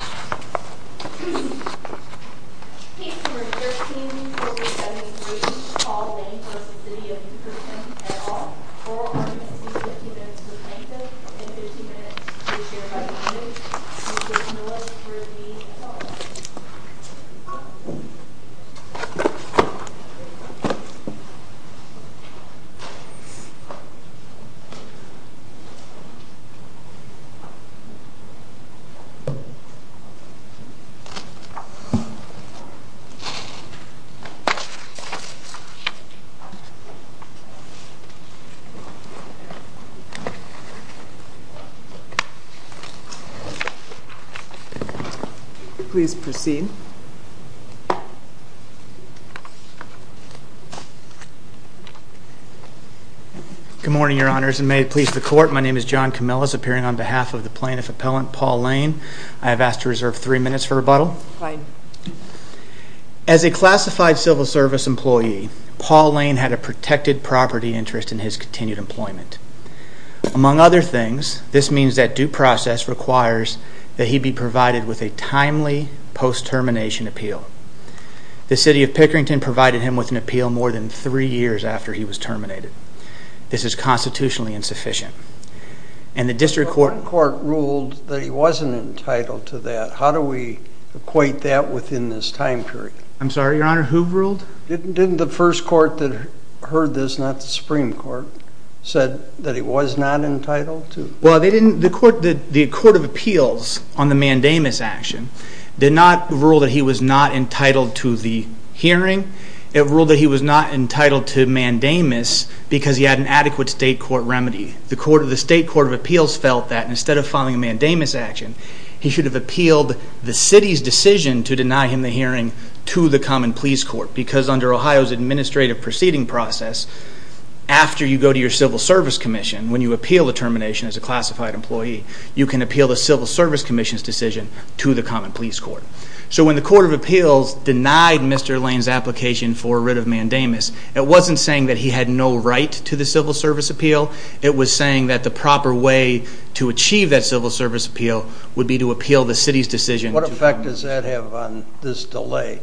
Case No. 13-4073, Paul Lane v. City of Pickerton, et al. Oral arguments will be 15 minutes in length and 15 minutes to be shared by the witness. Mr. Miller for the call. Please proceed. Good morning, Your Honors, and may it please the Court, my name is John Camillus, appearing on behalf of the plaintiff appellant, Paul Lane. I have asked to reserve three minutes for rebuttal. As a classified civil service employee, Paul Lane had a protected property interest in his continued employment. Among other things, this means that due process requires that he be provided with a timely post-termination appeal. The City of Pickerton provided him with an appeal more than three years after he was terminated. This is constitutionally insufficient. The District Court ruled that he wasn't entitled to that. How do we equate that within this time period? I'm sorry, Your Honor, who ruled? Didn't the first court that heard this, not the Supreme Court, said that he was not entitled to? Well, the Court of Appeals on the mandamus action did not rule that he was not entitled to the hearing. It ruled that he was not entitled to mandamus because he had an adequate state court remedy. The State Court of Appeals felt that instead of filing a mandamus action, he should have appealed the City's decision to deny him the hearing to the Common Pleas Court because under Ohio's administrative proceeding process, after you go to your Civil Service Commission, when you appeal the termination as a classified employee, you can appeal the Civil Service Commission's decision to the Common Pleas Court. So when the Court of Appeals denied Mr. Lane's application for a writ of mandamus, it wasn't saying that he had no right to the Civil Service Appeal. It was saying that the proper way to achieve that Civil Service Appeal would be to appeal the City's decision. What effect does that have on this delay?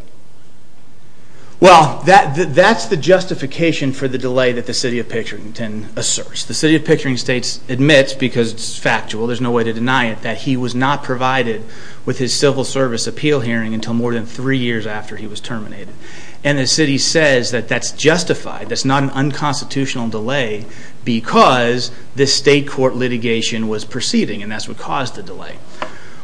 Well, that's the justification for the delay that the City of Picturington asserts. The City of Picturington admits, because it's factual, there's no way to deny it, that he was not provided with his Civil Service Appeal hearing until more than three years after he was terminated. And the City says that that's justified, that's not an unconstitutional delay, because this state court litigation was proceeding, and that's what caused the delay.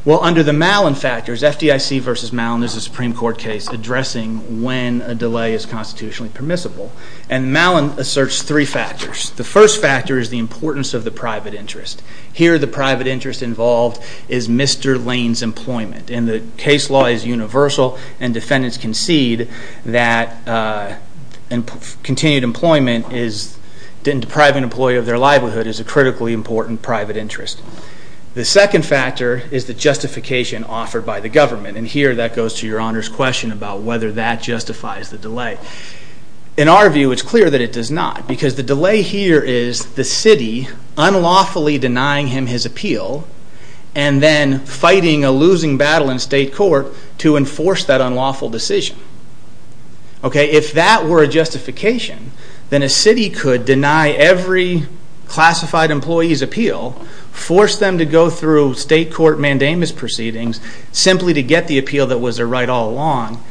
Well, under the Malin factors, FDIC v. Malin, there's a Supreme Court case addressing when a delay is constitutionally permissible, and Malin asserts three factors. The first factor is the importance of the private interest. Here the private interest involved is Mr. Lane's employment, and the case law is universal and defendants concede that continued employment and depriving an employee of their livelihood is a critically important private interest. The second factor is the justification offered by the government, and here that goes to Your Honor's question about whether that justifies the delay. In our view, it's clear that it does not, because the delay here is the City unlawfully denying him his appeal, and then fighting a losing battle in state court to enforce that unlawful decision. If that were a justification, then a City could deny every classified employee's appeal, force them to go through state court mandamus proceedings, simply to get the appeal that was their right all along.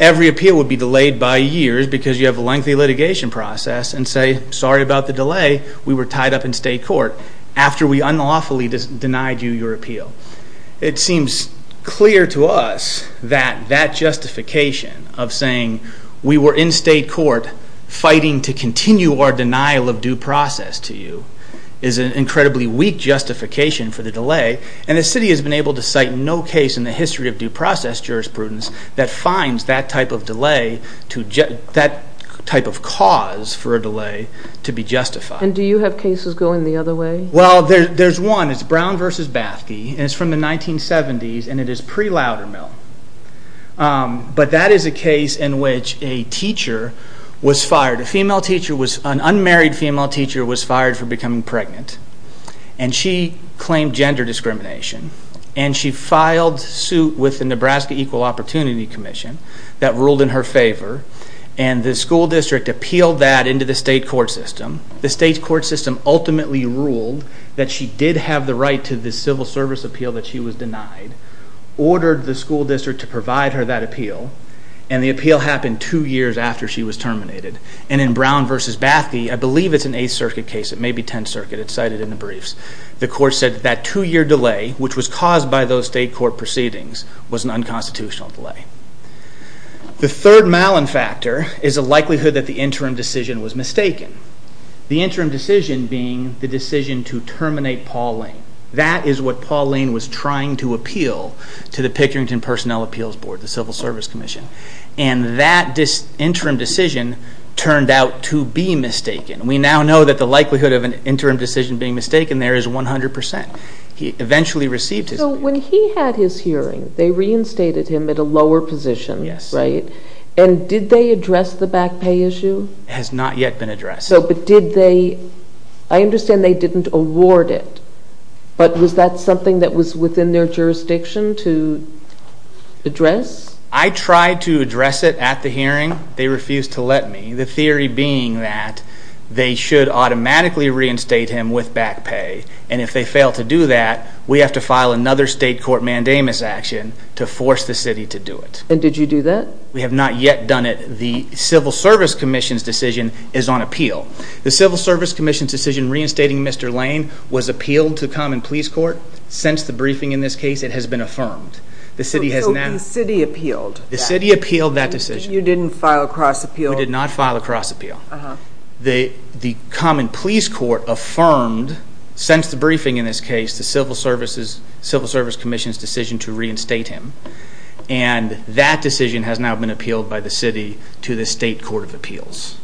Every appeal would be delayed by years, because you have a lengthy litigation process, and you were tied up in state court after we unlawfully denied you your appeal. It seems clear to us that that justification of saying, we were in state court fighting to continue our denial of due process to you, is an incredibly weak justification for the delay, and the City has been able to cite no case in the history of due process jurisprudence that finds that type of delay, that type of cause for a delay to be justified. And do you have cases going the other way? Well, there's one, it's Brown v. Bathke, and it's from the 1970s, and it is pre-Loudermill. But that is a case in which a teacher was fired, a female teacher, an unmarried female teacher was fired for becoming pregnant, and she claimed gender discrimination, and she filed suit with the Nebraska Equal Opportunity Commission, that ruled in her favor, and the school district appealed that into the state court system. The state court system ultimately ruled that she did have the right to the civil service appeal that she was denied, ordered the school district to provide her that appeal, and the appeal happened two years after she was terminated. And in Brown v. Bathke, I believe it's an 8th Circuit case, it may be 10th Circuit, it's cited in the briefs, the court said that two-year delay, which was caused by those state court proceedings, was an unconstitutional delay. The third Malin factor is the likelihood that the interim decision was mistaken. The interim decision being the decision to terminate Paul Lane. That is what Paul Lane was trying to appeal to the Pickerington Personnel Appeals Board, the Civil Service Commission, and that interim decision turned out to be mistaken. We now know that the likelihood of an interim decision being mistaken there is 100%. He eventually received his appeal. So when he had his hearing, they reinstated him at a lower position, right? Yes. And did they address the back pay issue? It has not yet been addressed. So, but did they, I understand they didn't award it, but was that something that was within their jurisdiction to address? I tried to address it at the hearing, they refused to let me, the theory being that they should automatically reinstate him with back pay, and if they fail to do that, we have to file another state court mandamus action to force the city to do it. And did you do that? We have not yet done it. The Civil Service Commission's decision is on appeal. The Civil Service Commission's decision reinstating Mr. Lane was appealed to the Common Police Court. Since the briefing in this case, it has been affirmed. The city has now... So the city appealed? The city appealed that decision. You didn't file a cross appeal? We did not file a cross appeal. The Common Police Court affirmed, since the briefing in this case, the Civil Service Commission's decision to reinstate him. And that decision has now been appealed by the city to the state court of appeals.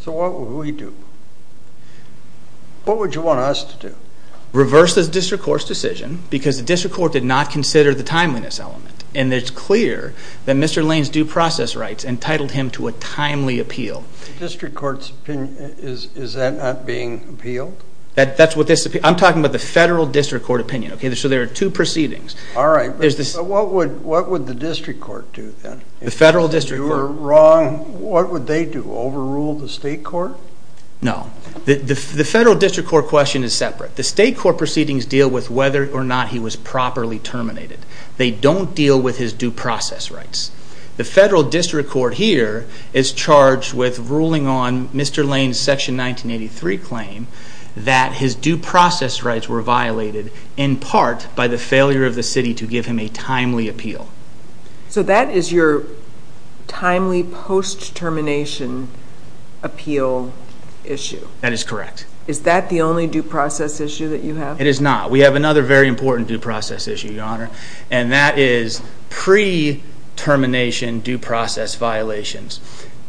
So what would we do? What would you want us to do? Reverse the district court's decision, because the district court did not consider the timeliness element. And it's clear that Mr. Lane's due process rights entitled him to a timely appeal. The district court's opinion, is that not being appealed? That's what this... I'm talking about the federal district court opinion. So there are two proceedings. All right. But what would the district court do then? The federal district court. If you were wrong, what would they do? Overrule the state court? No. The federal district court question is separate. The state court proceedings deal with whether or not he was properly terminated. They don't deal with his due process rights. The federal district court here is charged with ruling on Mr. Lane's Section 1983 claim that his due process rights were violated in part by the failure of the city to give him a timely appeal. So that is your timely post-termination appeal issue? That is correct. Is that the only due process issue that you have? We have another very important due process issue, Your Honor. And that is pre-termination due process violations.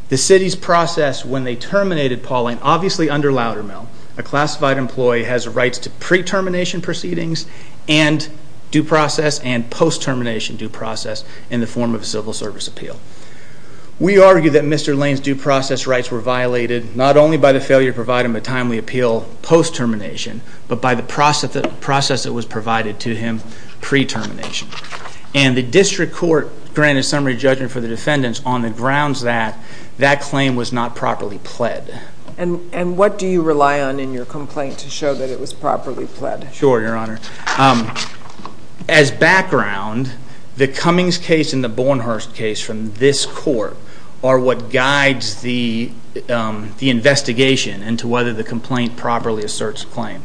The city's process when they terminated Paul Lane, obviously under Loudermill, a classified employee has rights to pre-termination proceedings and due process and post-termination due process in the form of a civil service appeal. We argue that Mr. Lane's due process rights were violated not only by the failure to provide him a timely appeal post-termination, but by the process that was provided to him pre-termination. And the district court granted a summary judgment for the defendants on the grounds that that claim was not properly pled. And what do you rely on in your complaint to show that it was properly pled? Sure, Your Honor. As background, the Cummings case and the Bornhurst case from this court are what guides the investigation into whether the complaint properly asserts claim.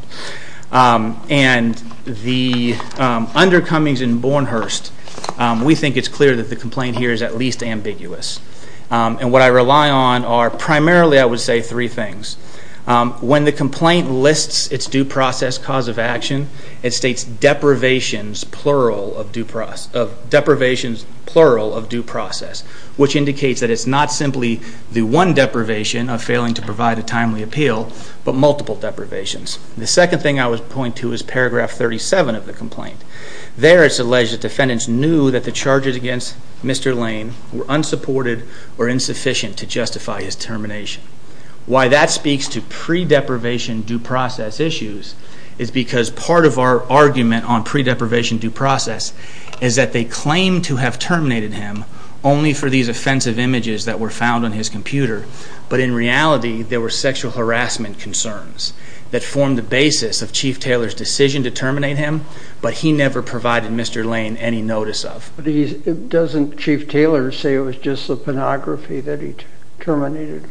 And the under Cummings and Bornhurst, we think it's clear that the complaint here is at least ambiguous. And what I rely on are primarily, I would say, three things. When the complaint lists its due process cause of action, it states deprivations plural of due process, deprivations plural of due process, which indicates that it's not simply the one deprivation of failing to provide a timely appeal, but multiple deprivations. The second thing I would point to is paragraph 37 of the complaint. There it's alleged that defendants knew that the charges against Mr. Lane were unsupported or insufficient to justify his termination. Why that speaks to pre-deprivation due process issues is because part of our argument on pre-deprivation due process is that they claim to have terminated him only for these offensive images that were found on his computer, but in reality there were sexual harassment concerns that formed the basis of Chief Taylor's decision to terminate him, but he never provided Mr. Lane any notice of. But doesn't Chief Taylor say it was just the pornography that he terminated?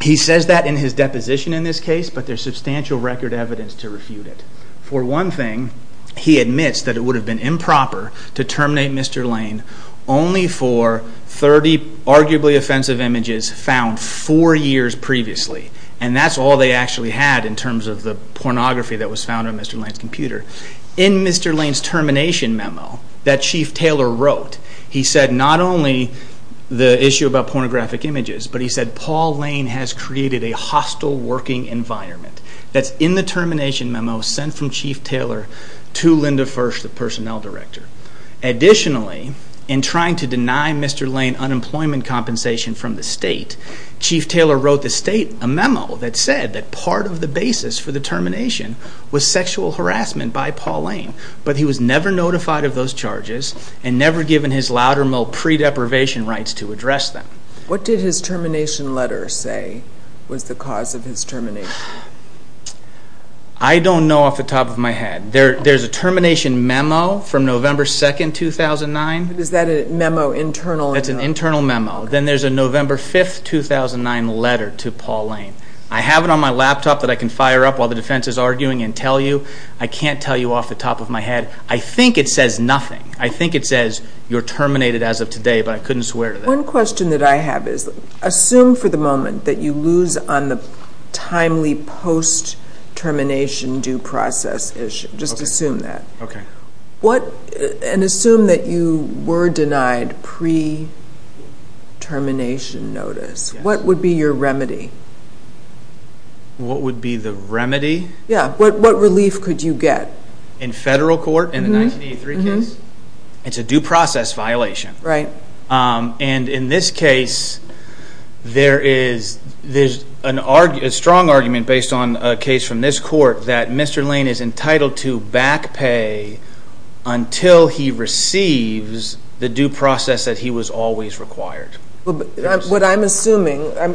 He says that in his deposition in this case, but there's substantial record evidence to refute it. For one thing, he admits that it would have been improper to terminate Mr. Lane only for 30 arguably offensive images found four years previously, and that's all they actually had in terms of the pornography that was found on Mr. Lane's computer. In Mr. Lane's termination memo that Chief Taylor wrote, he said not only the issue about pornographic images, but he said Paul Lane has created a hostile working environment. That's in the termination memo sent from Chief Taylor to Linda Fersh, the personnel director. Additionally, in trying to deny Mr. Lane unemployment compensation from the state, Chief Taylor wrote the state a memo that said that part of the basis for the termination was sexual harassment by Paul Lane, but he was never notified of those charges and never given his Loudermill pre-deprivation rights to address them. What did his termination letter say was the cause of his termination? I don't know off the top of my head. There's a termination memo from November 2, 2009. Is that a memo internal? It's an internal memo. Then there's a November 5, 2009 letter to Paul Lane. I have it on my laptop that I can fire up while the defense is arguing and tell you. I can't tell you off the top of my head. I think it says nothing. I think it says you're terminated as of today, but I couldn't swear to that. One question that I have is assume for the moment that you lose on the timely post-termination due process issue, just assume that, and assume that you were denied pre-termination notice. What would be your remedy? What would be the remedy? What relief could you get? In federal court, in the 1983 case, it's a due process violation. In this case, there's a strong argument based on a case from this court that Mr. Lane is entitled to back pay until he receives the due process that he was always required. What I'm assuming, and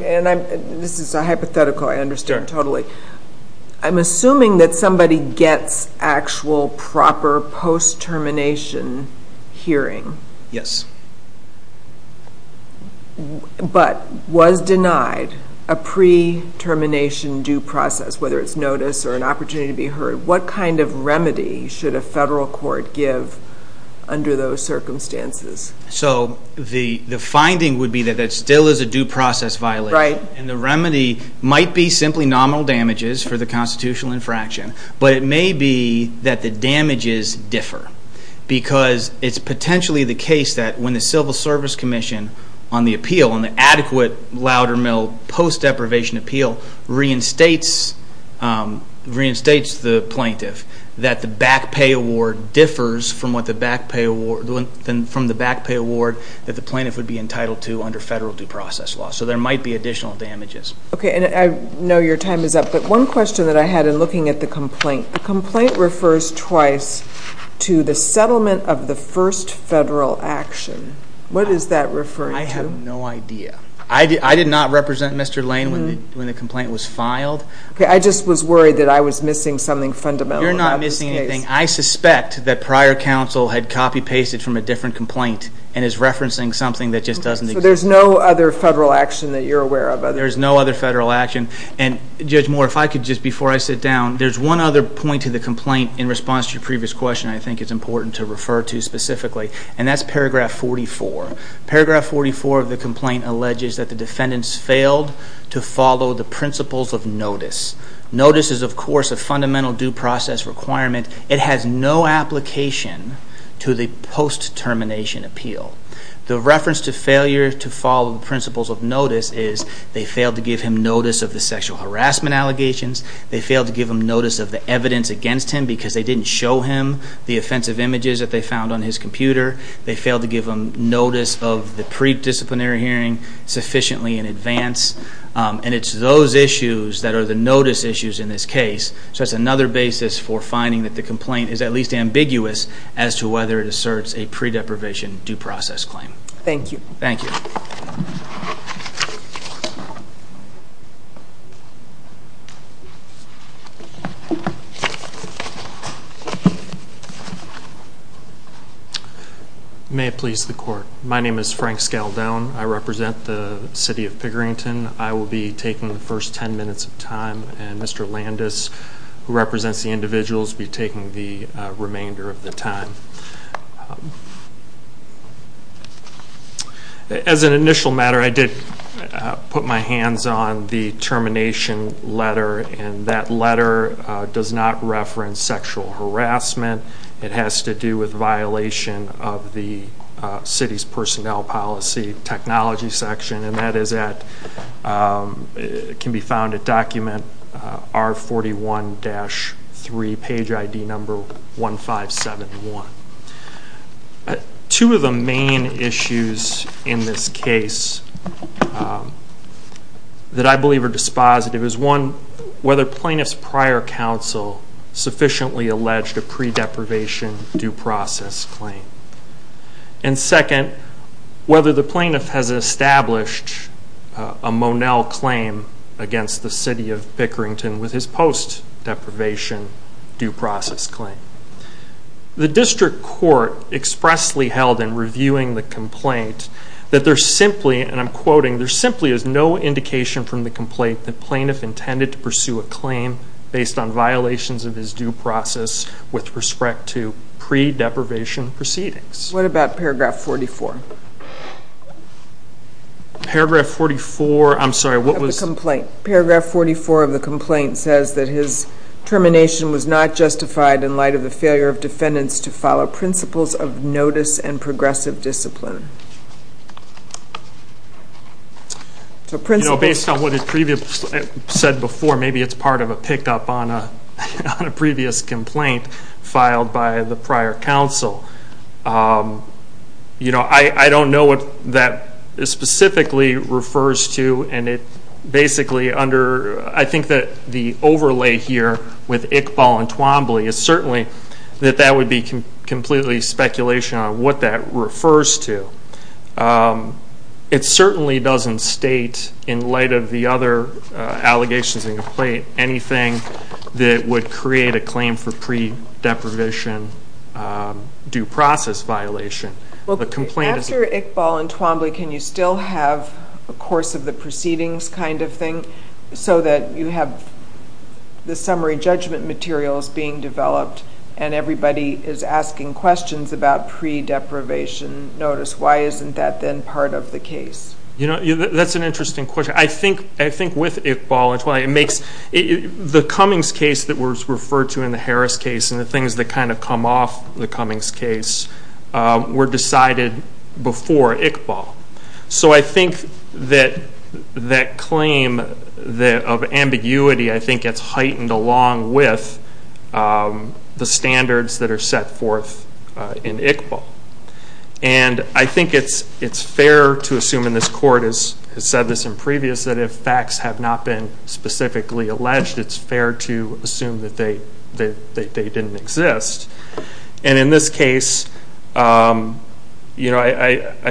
this is a hypothetical, I understand totally. I'm assuming that somebody gets actual proper post-termination hearing. Yes. But was denied a pre-termination due process, whether it's notice or an opportunity to be heard. What kind of remedy should a federal court give under those circumstances? The finding would be that it still is a due process violation. The remedy might be simply nominal damages for the constitutional infraction, but it would be the case that when the Civil Service Commission on the appeal, on the adequate Loudermill post-deprivation appeal, reinstates the plaintiff, that the back pay award differs from the back pay award that the plaintiff would be entitled to under federal due process law. So there might be additional damages. I know your time is up, but one question that I had in looking at the complaint. The complaint refers twice to the settlement of the first federal action. What is that referring to? I have no idea. I did not represent Mr. Lane when the complaint was filed. Okay, I just was worried that I was missing something fundamental. You're not missing anything. I suspect that prior counsel had copy-pasted from a different complaint and is referencing something that just doesn't exist. So there's no other federal action that you're aware of? There's no other federal action. Judge Moore, if I could, just before I sit down, there's one other point to the complaint in response to your previous question I think is important to refer to specifically, and that's paragraph 44. Paragraph 44 of the complaint alleges that the defendants failed to follow the principles of notice. Notice is, of course, a fundamental due process requirement. It has no application to the post-termination appeal. The reference to failure to follow the principles of notice is they failed to give him notice of the sexual harassment allegations. They failed to give him notice of the evidence against him because they didn't show him the offensive images that they found on his computer. They failed to give him notice of the pre-disciplinary hearing sufficiently in advance. And it's those issues that are the notice issues in this case. So that's another basis for finding that the complaint is at least ambiguous as to whether it asserts a pre-deprivation due process claim. Thank you. Thank you. Thank you. May it please the court. My name is Frank Scaldone. I represent the city of Piggerington. I will be taking the first 10 minutes of time, and Mr. Landis, who represents the individuals, will be taking the remainder of the time. As an initial matter, I did put my hands on the termination letter. And that letter does not reference sexual harassment. It has to do with violation of the city's personnel policy technology section. And that is at, it can be found at document R41-3, page ID number 1571. Two of the main issues in this case that I believe are dispositive is one, whether plaintiff's prior counsel sufficiently alleged a pre-deprivation due process claim. And second, whether the plaintiff has established a Monell claim against the city of Piggerington with his post-deprivation due process claim. The district court expressly held in reviewing the complaint that there simply, and I'm quoting, there simply is no indication from the complaint that plaintiff intended to pursue a claim based on violations of his due process with respect to pre-deprivation proceedings. What about paragraph 44? Paragraph 44, I'm sorry, what was? The complaint. Paragraph 44 of the complaint says that his termination was not justified in light of the failure of defendants to follow principles of notice and progressive discipline. So principles. You know, based on what is previously said before, maybe it's part of a pickup on a previous complaint filed by the prior counsel. You know, I don't know what that specifically refers to. And it basically under, I think that the overlay here with Iqbal and Twombly is certainly that that would be completely speculation on what that refers to. It certainly doesn't state in light of the other allegations in the complaint anything that would create a claim for pre-deprivation due process violation. After Iqbal and Twombly, can you still have a course of the proceedings kind of thing so that you have the summary judgment materials being developed and everybody is asking questions about pre-deprivation notice? Why isn't that then part of the case? You know, that's an interesting question. I think with Iqbal and Twombly, it makes, the Cummings case that was referred to in the Harris case and the things that kind of come off the Cummings case were decided before Iqbal. So I think that that claim of ambiguity, I think, gets heightened along with the standards that are set forth in Iqbal. And I think it's fair to assume, and this court has said this in previous, that if facts have not been specifically alleged, it's fair to assume that they didn't exist. And in this case, I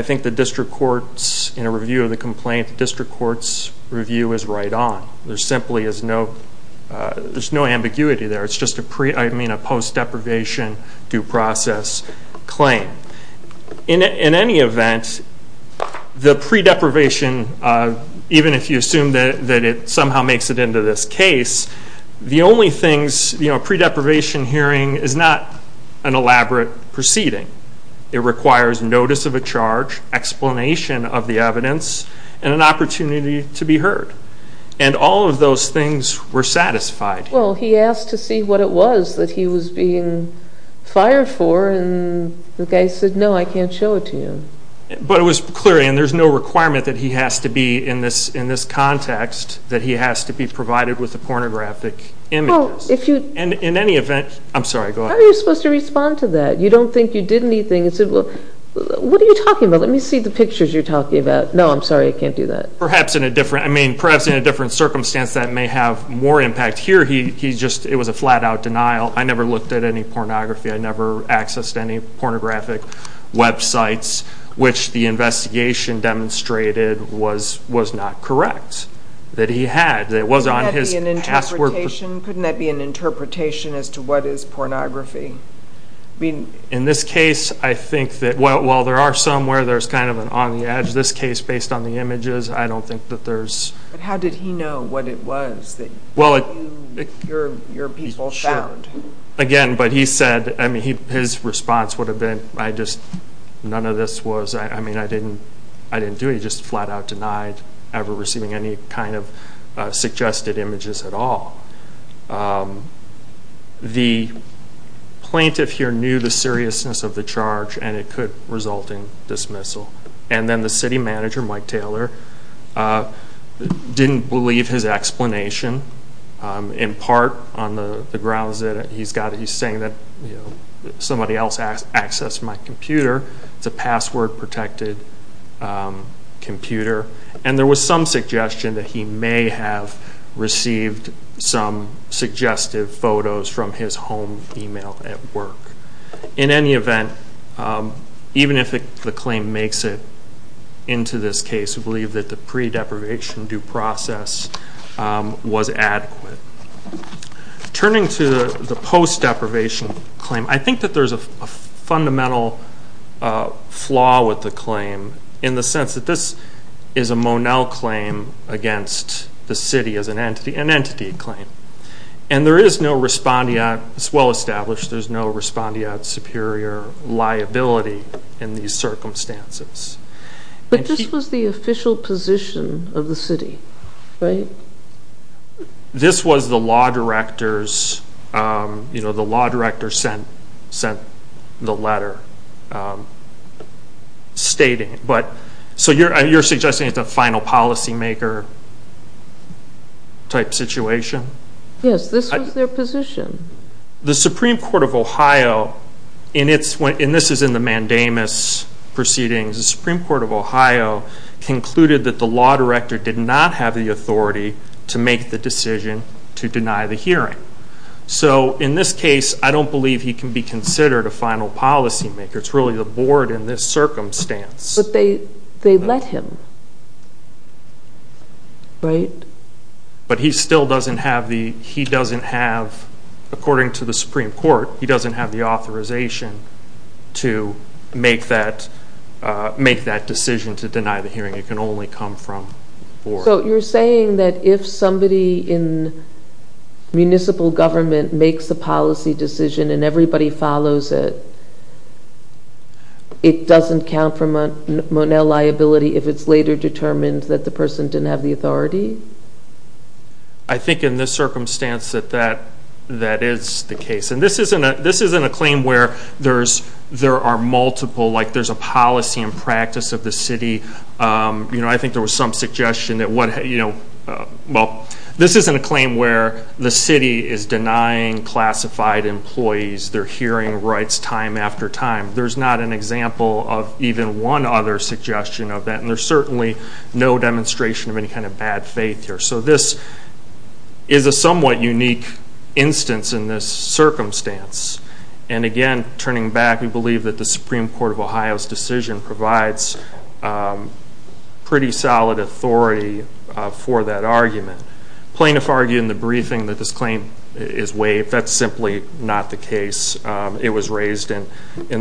think the district court's, in a review of the complaint, the district court's review is right on. There simply is no, there's no ambiguity there. It's just a post-deprivation due process claim. In any event, the pre-deprivation, even if you assume that it somehow makes it into this case, the only things, you know, pre-deprivation hearing is not an elaborate proceeding. It requires notice of a charge, explanation of the evidence, and an opportunity to be heard. And all of those things were satisfied. Well, he asked to see what it was that he was being fired for and the guy said, no, I can't show it to you. But it was clear, and there's no requirement that he has to be in this context, that he has to be provided with a pornographic image. And in any event, I'm sorry, go ahead. How are you supposed to respond to that? You don't think you did anything. What are you talking about? Let me see the pictures you're talking about. No, I'm sorry, I can't do that. Perhaps in a different, I mean, perhaps in a different circumstance that may have more impact. Here, he just, it was a flat-out denial. I never looked at any pornography. I never accessed any pornographic websites, which the investigation demonstrated was not correct. That he had, that it was on his password. Couldn't that be an interpretation? Couldn't that be an interpretation as to what is pornography? In this case, I think that while there are some where there's kind of an on-the-edge, this case, based on the images, I don't think that there's... But how did he know what it was that your people found? Again, but he said, I mean, his response would have been, I just, none of this was, I mean, I didn't do it. He just flat-out denied ever receiving any kind of suggested images at all. The plaintiff here knew the seriousness of the charge and it could result in dismissal. And then the city manager, Mike Taylor, didn't believe his explanation, in part on the grounds that he's got, he's saying that somebody else accessed my computer. It's a password-protected computer. And there was some suggestion that he may have received some suggestive photos from his home email at work. In any event, even if the claim makes it into this case, we believe that the pre-deprivation due process was adequate. Turning to the post-deprivation claim, I think that there's a fundamental flaw with the claim in the sense that this is a Monell claim against the city as an entity, an entity claim. And there is no respondeat, it's well-established, there's no respondeat superior liability in these circumstances. But this was the official position of the city, right? This was the law director's, the law director sent the letter stating it. So you're suggesting it's a final policymaker type situation? Yes, this was their position. The Supreme Court of Ohio, and this is in the mandamus proceedings, the Supreme Court of Ohio concluded that the law director did not have the authority to make the decision to deny the hearing. So in this case, I don't believe he can be considered a final policymaker. It's really the board in this circumstance. But they let him, right? But he still doesn't have the, he doesn't have, according to the Supreme Court, he doesn't have the authorization to make that decision to deny the hearing. It can only come from the board. So you're saying that if somebody in municipal government makes a policy decision and everybody follows it, it doesn't count for Monell liability if it's later determined that the person didn't have the authority? I think in this circumstance that that is the case. And this isn't a claim where there are multiple, like there's a policy and practice of the city. You know, I think there was some suggestion that what, you know, well, this isn't a claim where the city is denying classified employees their hearing rights time after time. There's not an example of even one other suggestion of that. And there's certainly no demonstration of any kind of bad faith here. So this is a somewhat unique instance in this circumstance. And again, turning back, we believe that the Supreme Court of Ohio's decision provides pretty solid authority for that argument. Plaintiff argued in the briefing that this claim is waived. That's simply not the case. It was raised in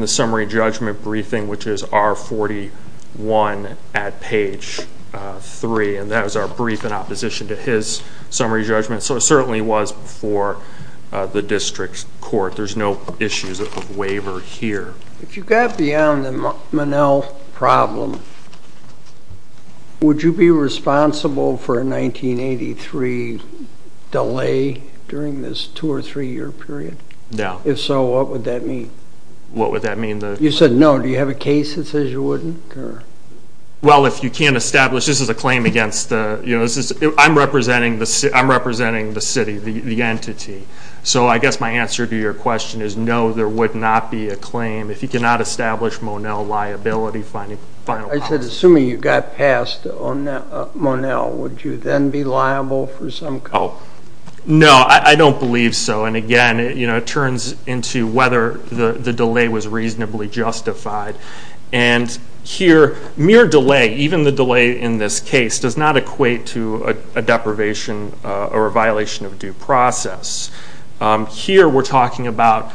the summary judgment briefing, which is R41 at page 3. And that was our brief in opposition to his summary judgment. So it certainly was before the district court. There's no issues of waiver here. If you got beyond the Monell problem, would you be responsible for a 1983 delay during this 2- or 3-year period? No. If so, what would that mean? What would that mean? You said no. Do you have a case that says you wouldn't? Well, if you can't establish, this is a claim against the, you know, I'm representing the city, the entity. So I guess my answer to your question is no, there would not be a claim. If you cannot establish Monell liability, find a final... I said assuming you got past Monell, would you then be liable for some... Oh, no, I don't believe so. And again, you know, it turns into whether the delay was reasonably justified. And here, mere delay, even the delay in this case, does not equate to a deprivation or a violation of due process. Here, we're talking about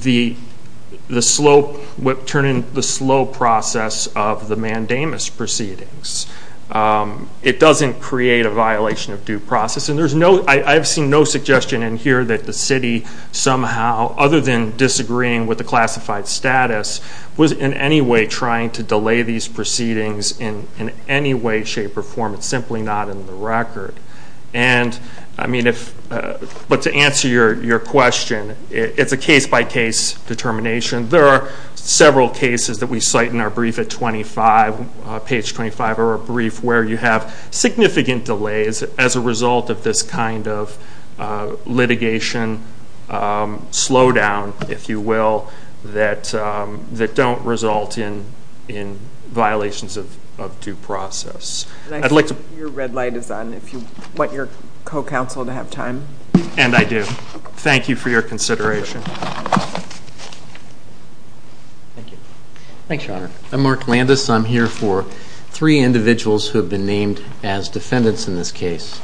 the slow... turning the slow process of the mandamus proceedings. It doesn't create a violation of due process. And there's no... I've seen no suggestion in here that the city somehow, other than disagreeing with the classified status, was in any way trying to delay these proceedings in any way, shape, or form. It's simply not in the record. And, I mean, if... But to answer your question, it's a case-by-case determination. There are several cases that we cite in our brief at 25, page 25 of our brief, where you have significant delays as a result of this kind of litigation slowdown, if you will, that don't result in violations of due process. I'd like to... Your red light is on if you want your co-counsel to have time. And I do. Thank you for your consideration. Thank you. Thanks, Your Honor. I'm Mark Landis. I'm here for three individuals who have been named as defendants in this case.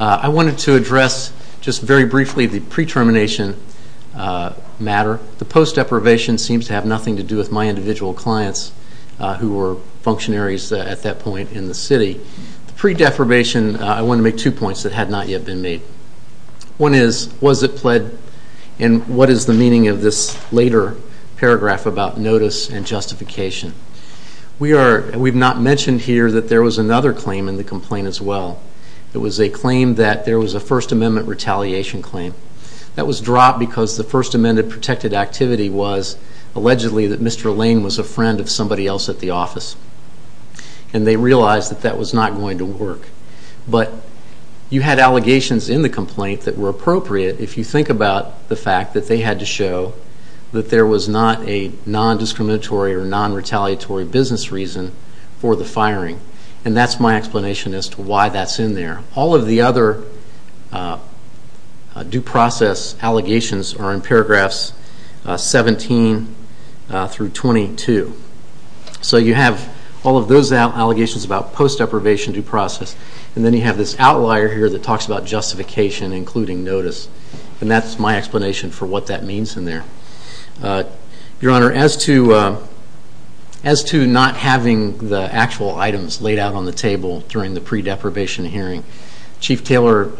I wanted to address, just very briefly, the pre-termination matter. The post-deprivation seems to have nothing to do with my individual clients who were functionaries at that point in the city. The pre-deprivation, I want to make two points that had not yet been made. One is, was it pled? And what is the meaning of this later paragraph about notice and justification? We are... We've not mentioned here that there was another claim in the complaint as well. It was a claim that there was a First Amendment retaliation claim. That was dropped because the First Amendment protected activity was allegedly that Mr. Lane was a friend of somebody else at the office. And they realized that that was not going to work. But, you had allegations in the complaint that were appropriate if you think about the fact that they had to show that there was not a non-discriminatory or non-retaliatory business reason for the firing. And that's my explanation as to why that's in there. All of the other due process allegations are in paragraphs 17 through 22. So you have all of those allegations about post-deprivation due process. And then you have this outlier here that talks about justification including notice. And that's my explanation for what that means in there. Your Honor, as to as to not having the actual items laid out on the table during the pre-deprivation hearing, Chief Taylor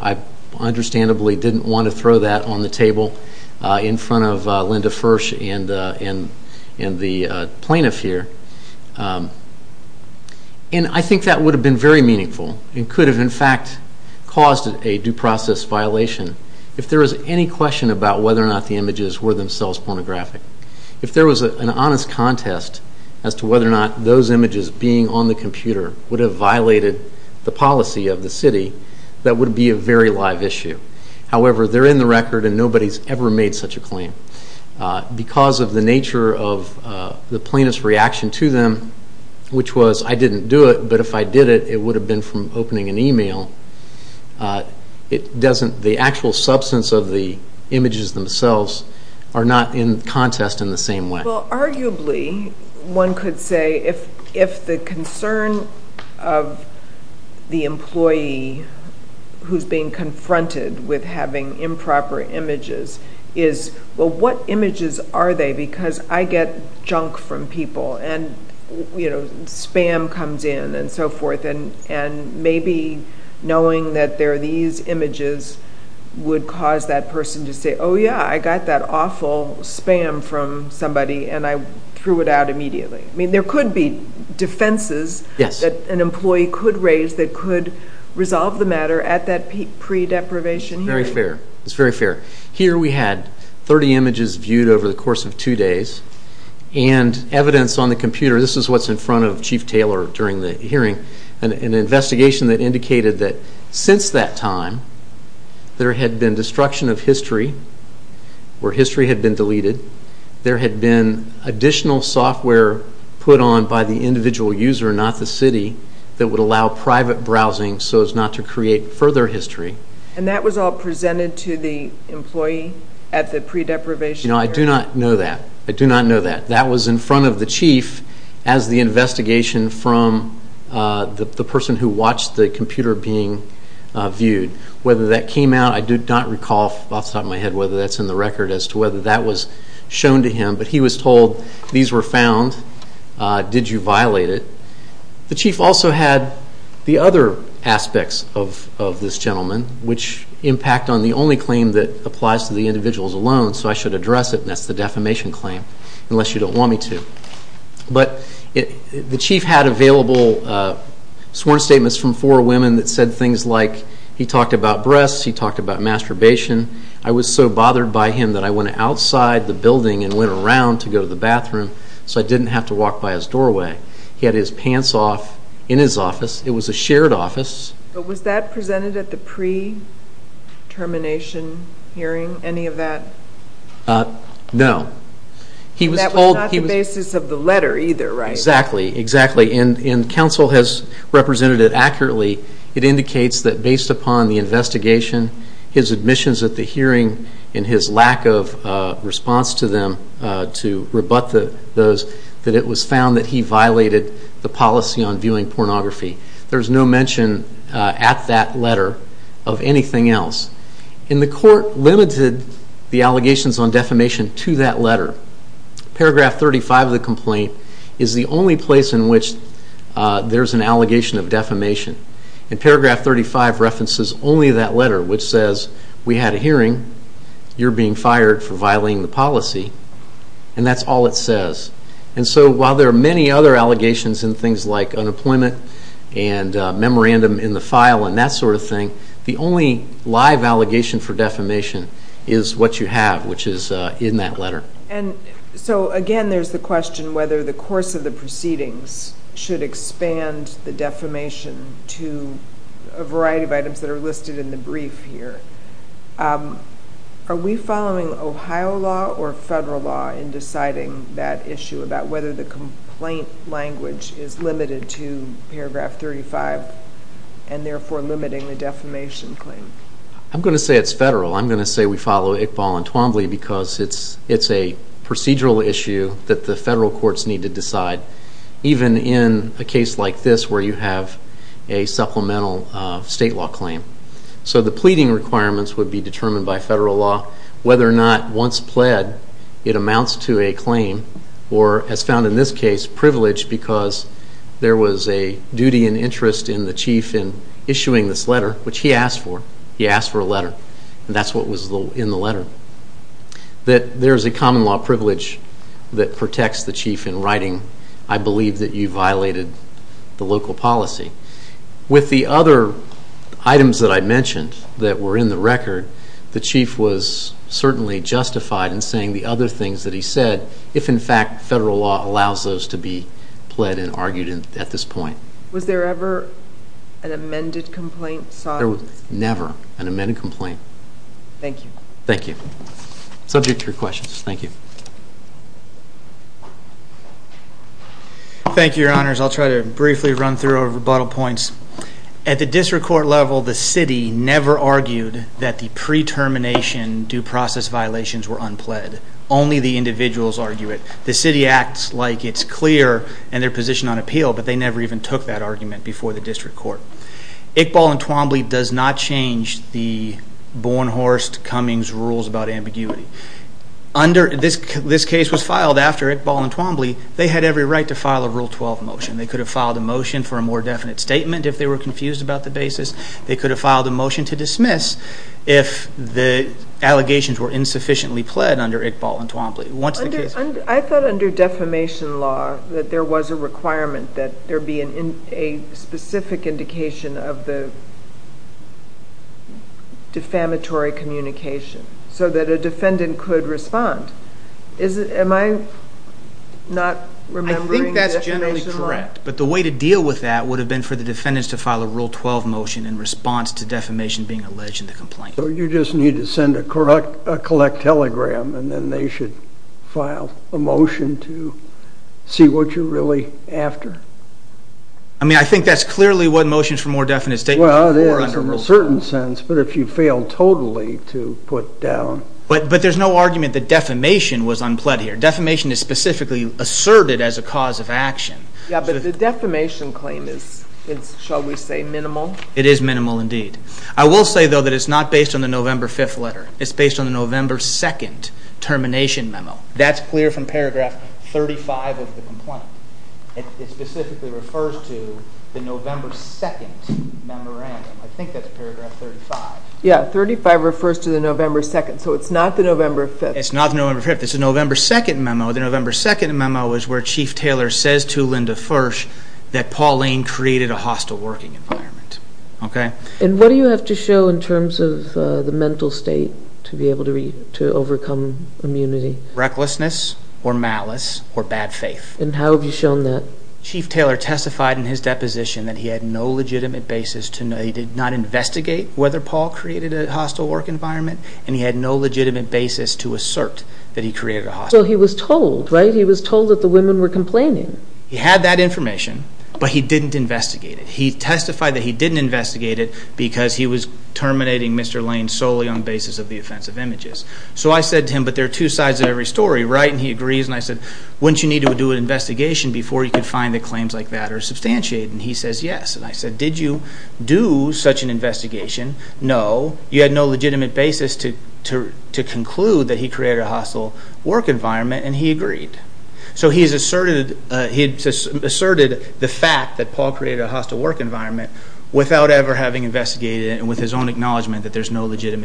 understandably didn't want to throw that on the table in front of Linda Fursh and the plaintiff here. And I think that would have been very meaningful and could have in fact caused a due process violation if there was any question about whether or not the images were themselves pornographic. If there was an honest contest as to whether or not those images being on the computer would have violated the policy of the city that would be a very live issue. However, they're in the record and nobody has ever made such a claim. Because of the nature of the plaintiff's reaction to them which was I didn't do it but if I did it it would have been from opening an email it doesn't the actual substance of the complaint confronted with having improper images is well what images are they because I get junk from people and you know spam comes in and so forth and maybe knowing that there are these images would cause that person to say oh yeah I got that awful spam from somebody and I threw it out immediately. I mean there could be defenses that an employee could raise that could resolve the matter at that pre-deprivation hearing. Very fair. It's very fair. Here we had 30 images viewed over the course of two days and evidence on the computer this is what's in front of chief Taylor during the hearing an investigation that indicated that since that time there had been destruction of history where history had been deleted there had been additional software put on by the individual user not the city that would allow private browsing so as not to create further history. And that was all presented to the employee at the pre-deprivation hearing. You know I do not know that. I do not know that. That was in front of the chief as the investigation from the person who watched the computer being viewed. Whether that came out I do not recall off the top of my head whether that's in the record as to whether that was shown to him but he was told these were found, did you violate it. The chief also had the other aspects of this gentleman which impact on the only claim that applies to the individuals alone so I should address it and that's the defamation claim unless you don't want me to. But the chief had his pants off outside the building and went around to go to the bathroom so I didn't have to walk by his doorway. He had his pants off in his office. It was a shared office. Was that presented at the pre-termination hearing? Any of that? No. That was not the basis of the letter either, right? Exactly. Exactly. And counsel has represented it accurately. It indicates that based upon the investigation, his admissions at the hearing, and his lack of response to them to rebut those, that it was found that he violated the policy on viewing pornography. There's no mention at that letter of anything else. And the court limited the allegations on defamation to that letter. Paragraph 35 of the complaint is the only place in which there's an allegation of defamation. And paragraph 35 references only that letter which says we had a hearing, you're being fired for violating the policy, and that's all it says. And so while there are many other allegations in things like unemployment and memorandum in the file and that sort of thing, the only live allegation for defamation is what you have which is in that letter. And so again there's the question whether the course of the case is limiting that issue about whether the complaint language is limited to paragraph 35 and therefore limiting the defamation claim. I'm going to say it's federal. I'm going to say we follow Iqbal and Twombly because it's a procedural issue that the federal courts need to decide even in a case like this where you have a supplemental state law claim. So the pleading requirements would be determined by federal law whether or not once pled it amounts to a claim or as found in this case privilege because there was a duty and interest in the chief in issuing this letter which he asked for. He asked for a letter. And that's what was in the letter. That there is a common law privilege that protects the chief in writing I believe that you violated the local policy. With the other items that I mentioned that were in the record the chief was certainly justified in saying the other things that he said if in fact federal law allows those to be pled and argued at this point. Was there ever an amended complaint? There was never an amended complaint. Thank you. Thank you. Subject to your questions. Thank you. Thank you your honors. I'll try to briefly run through our rebuttal points. At the district court level the city never argued that the pre-termination due process violations were unpled. Only the individuals argue it. The city acts like it's clear position on appeal but they never even took that argument before the district court. Iqbal and Twombly does not change the Bornhorst Cummings rules about ambiguity. This case was filed after Iqbal and Twombly. They had every right to file a rule 12 motion. They could have filed a motion for a more definite statement if they were confused about the basis. They could have filed a motion to dismiss if the allegations were insufficiently pled under Iqbal and Twombly. I thought under defamation law that there was a requirement that there be a specific indication of the defamatory so that a defendant could respond. Am I not remembering the defamation law? I think that's generally correct but the way to deal with that would have been for the defendants to file a rule 12 motion in response to defamation being alleged in the complaint. You just need to send a collect telegram and then they should file a motion to see what you're really after. I mean I think that's clearly what motion for more definite statement Well it is in a certain sense but if you fail totally to put But there's no argument that defamation was unpled here. Defamation is specifically asserted as a cause of action. Yeah but the defamation claim is shall we say minimal? It is minimal indeed. I will say though that it's not based on the November 5th letter. It's based on the November 2nd termination memo. That's clear from paragraph 35 of the complaint. It specifically refers to the November 2nd memorandum. I think that's paragraph 35. Yeah 35 refers to the November 2nd. So it's not the November 5th. It's not the November 5th. It's the November 2nd memo. The November 2nd memo is where Chief Taylor says to Mr. Lane that he has no legitimate basis to assert that he created a hostile work environment and he had no legitimate basis to assert that he created a hostile work environment. He had that information but he didn't investigate it. He testified that he didn't investigate it because he was terminating Mr. Lane solely on the basis of the offensive images. So I said to him but there are two sides of every story. He agrees and I said wouldn't you need to do an investigation before you could find claims like that or substantiate it. He said yes. I said did you do such an investigation? No. You had no legitimate basis to conclude that he created a hostile work environment and he agreed. He asserted the fact that Paul created a hostile work environment and he agreed to do an investigation before he could find claims like that. And I said wouldn't you need to do an investigation before you could find claims like that?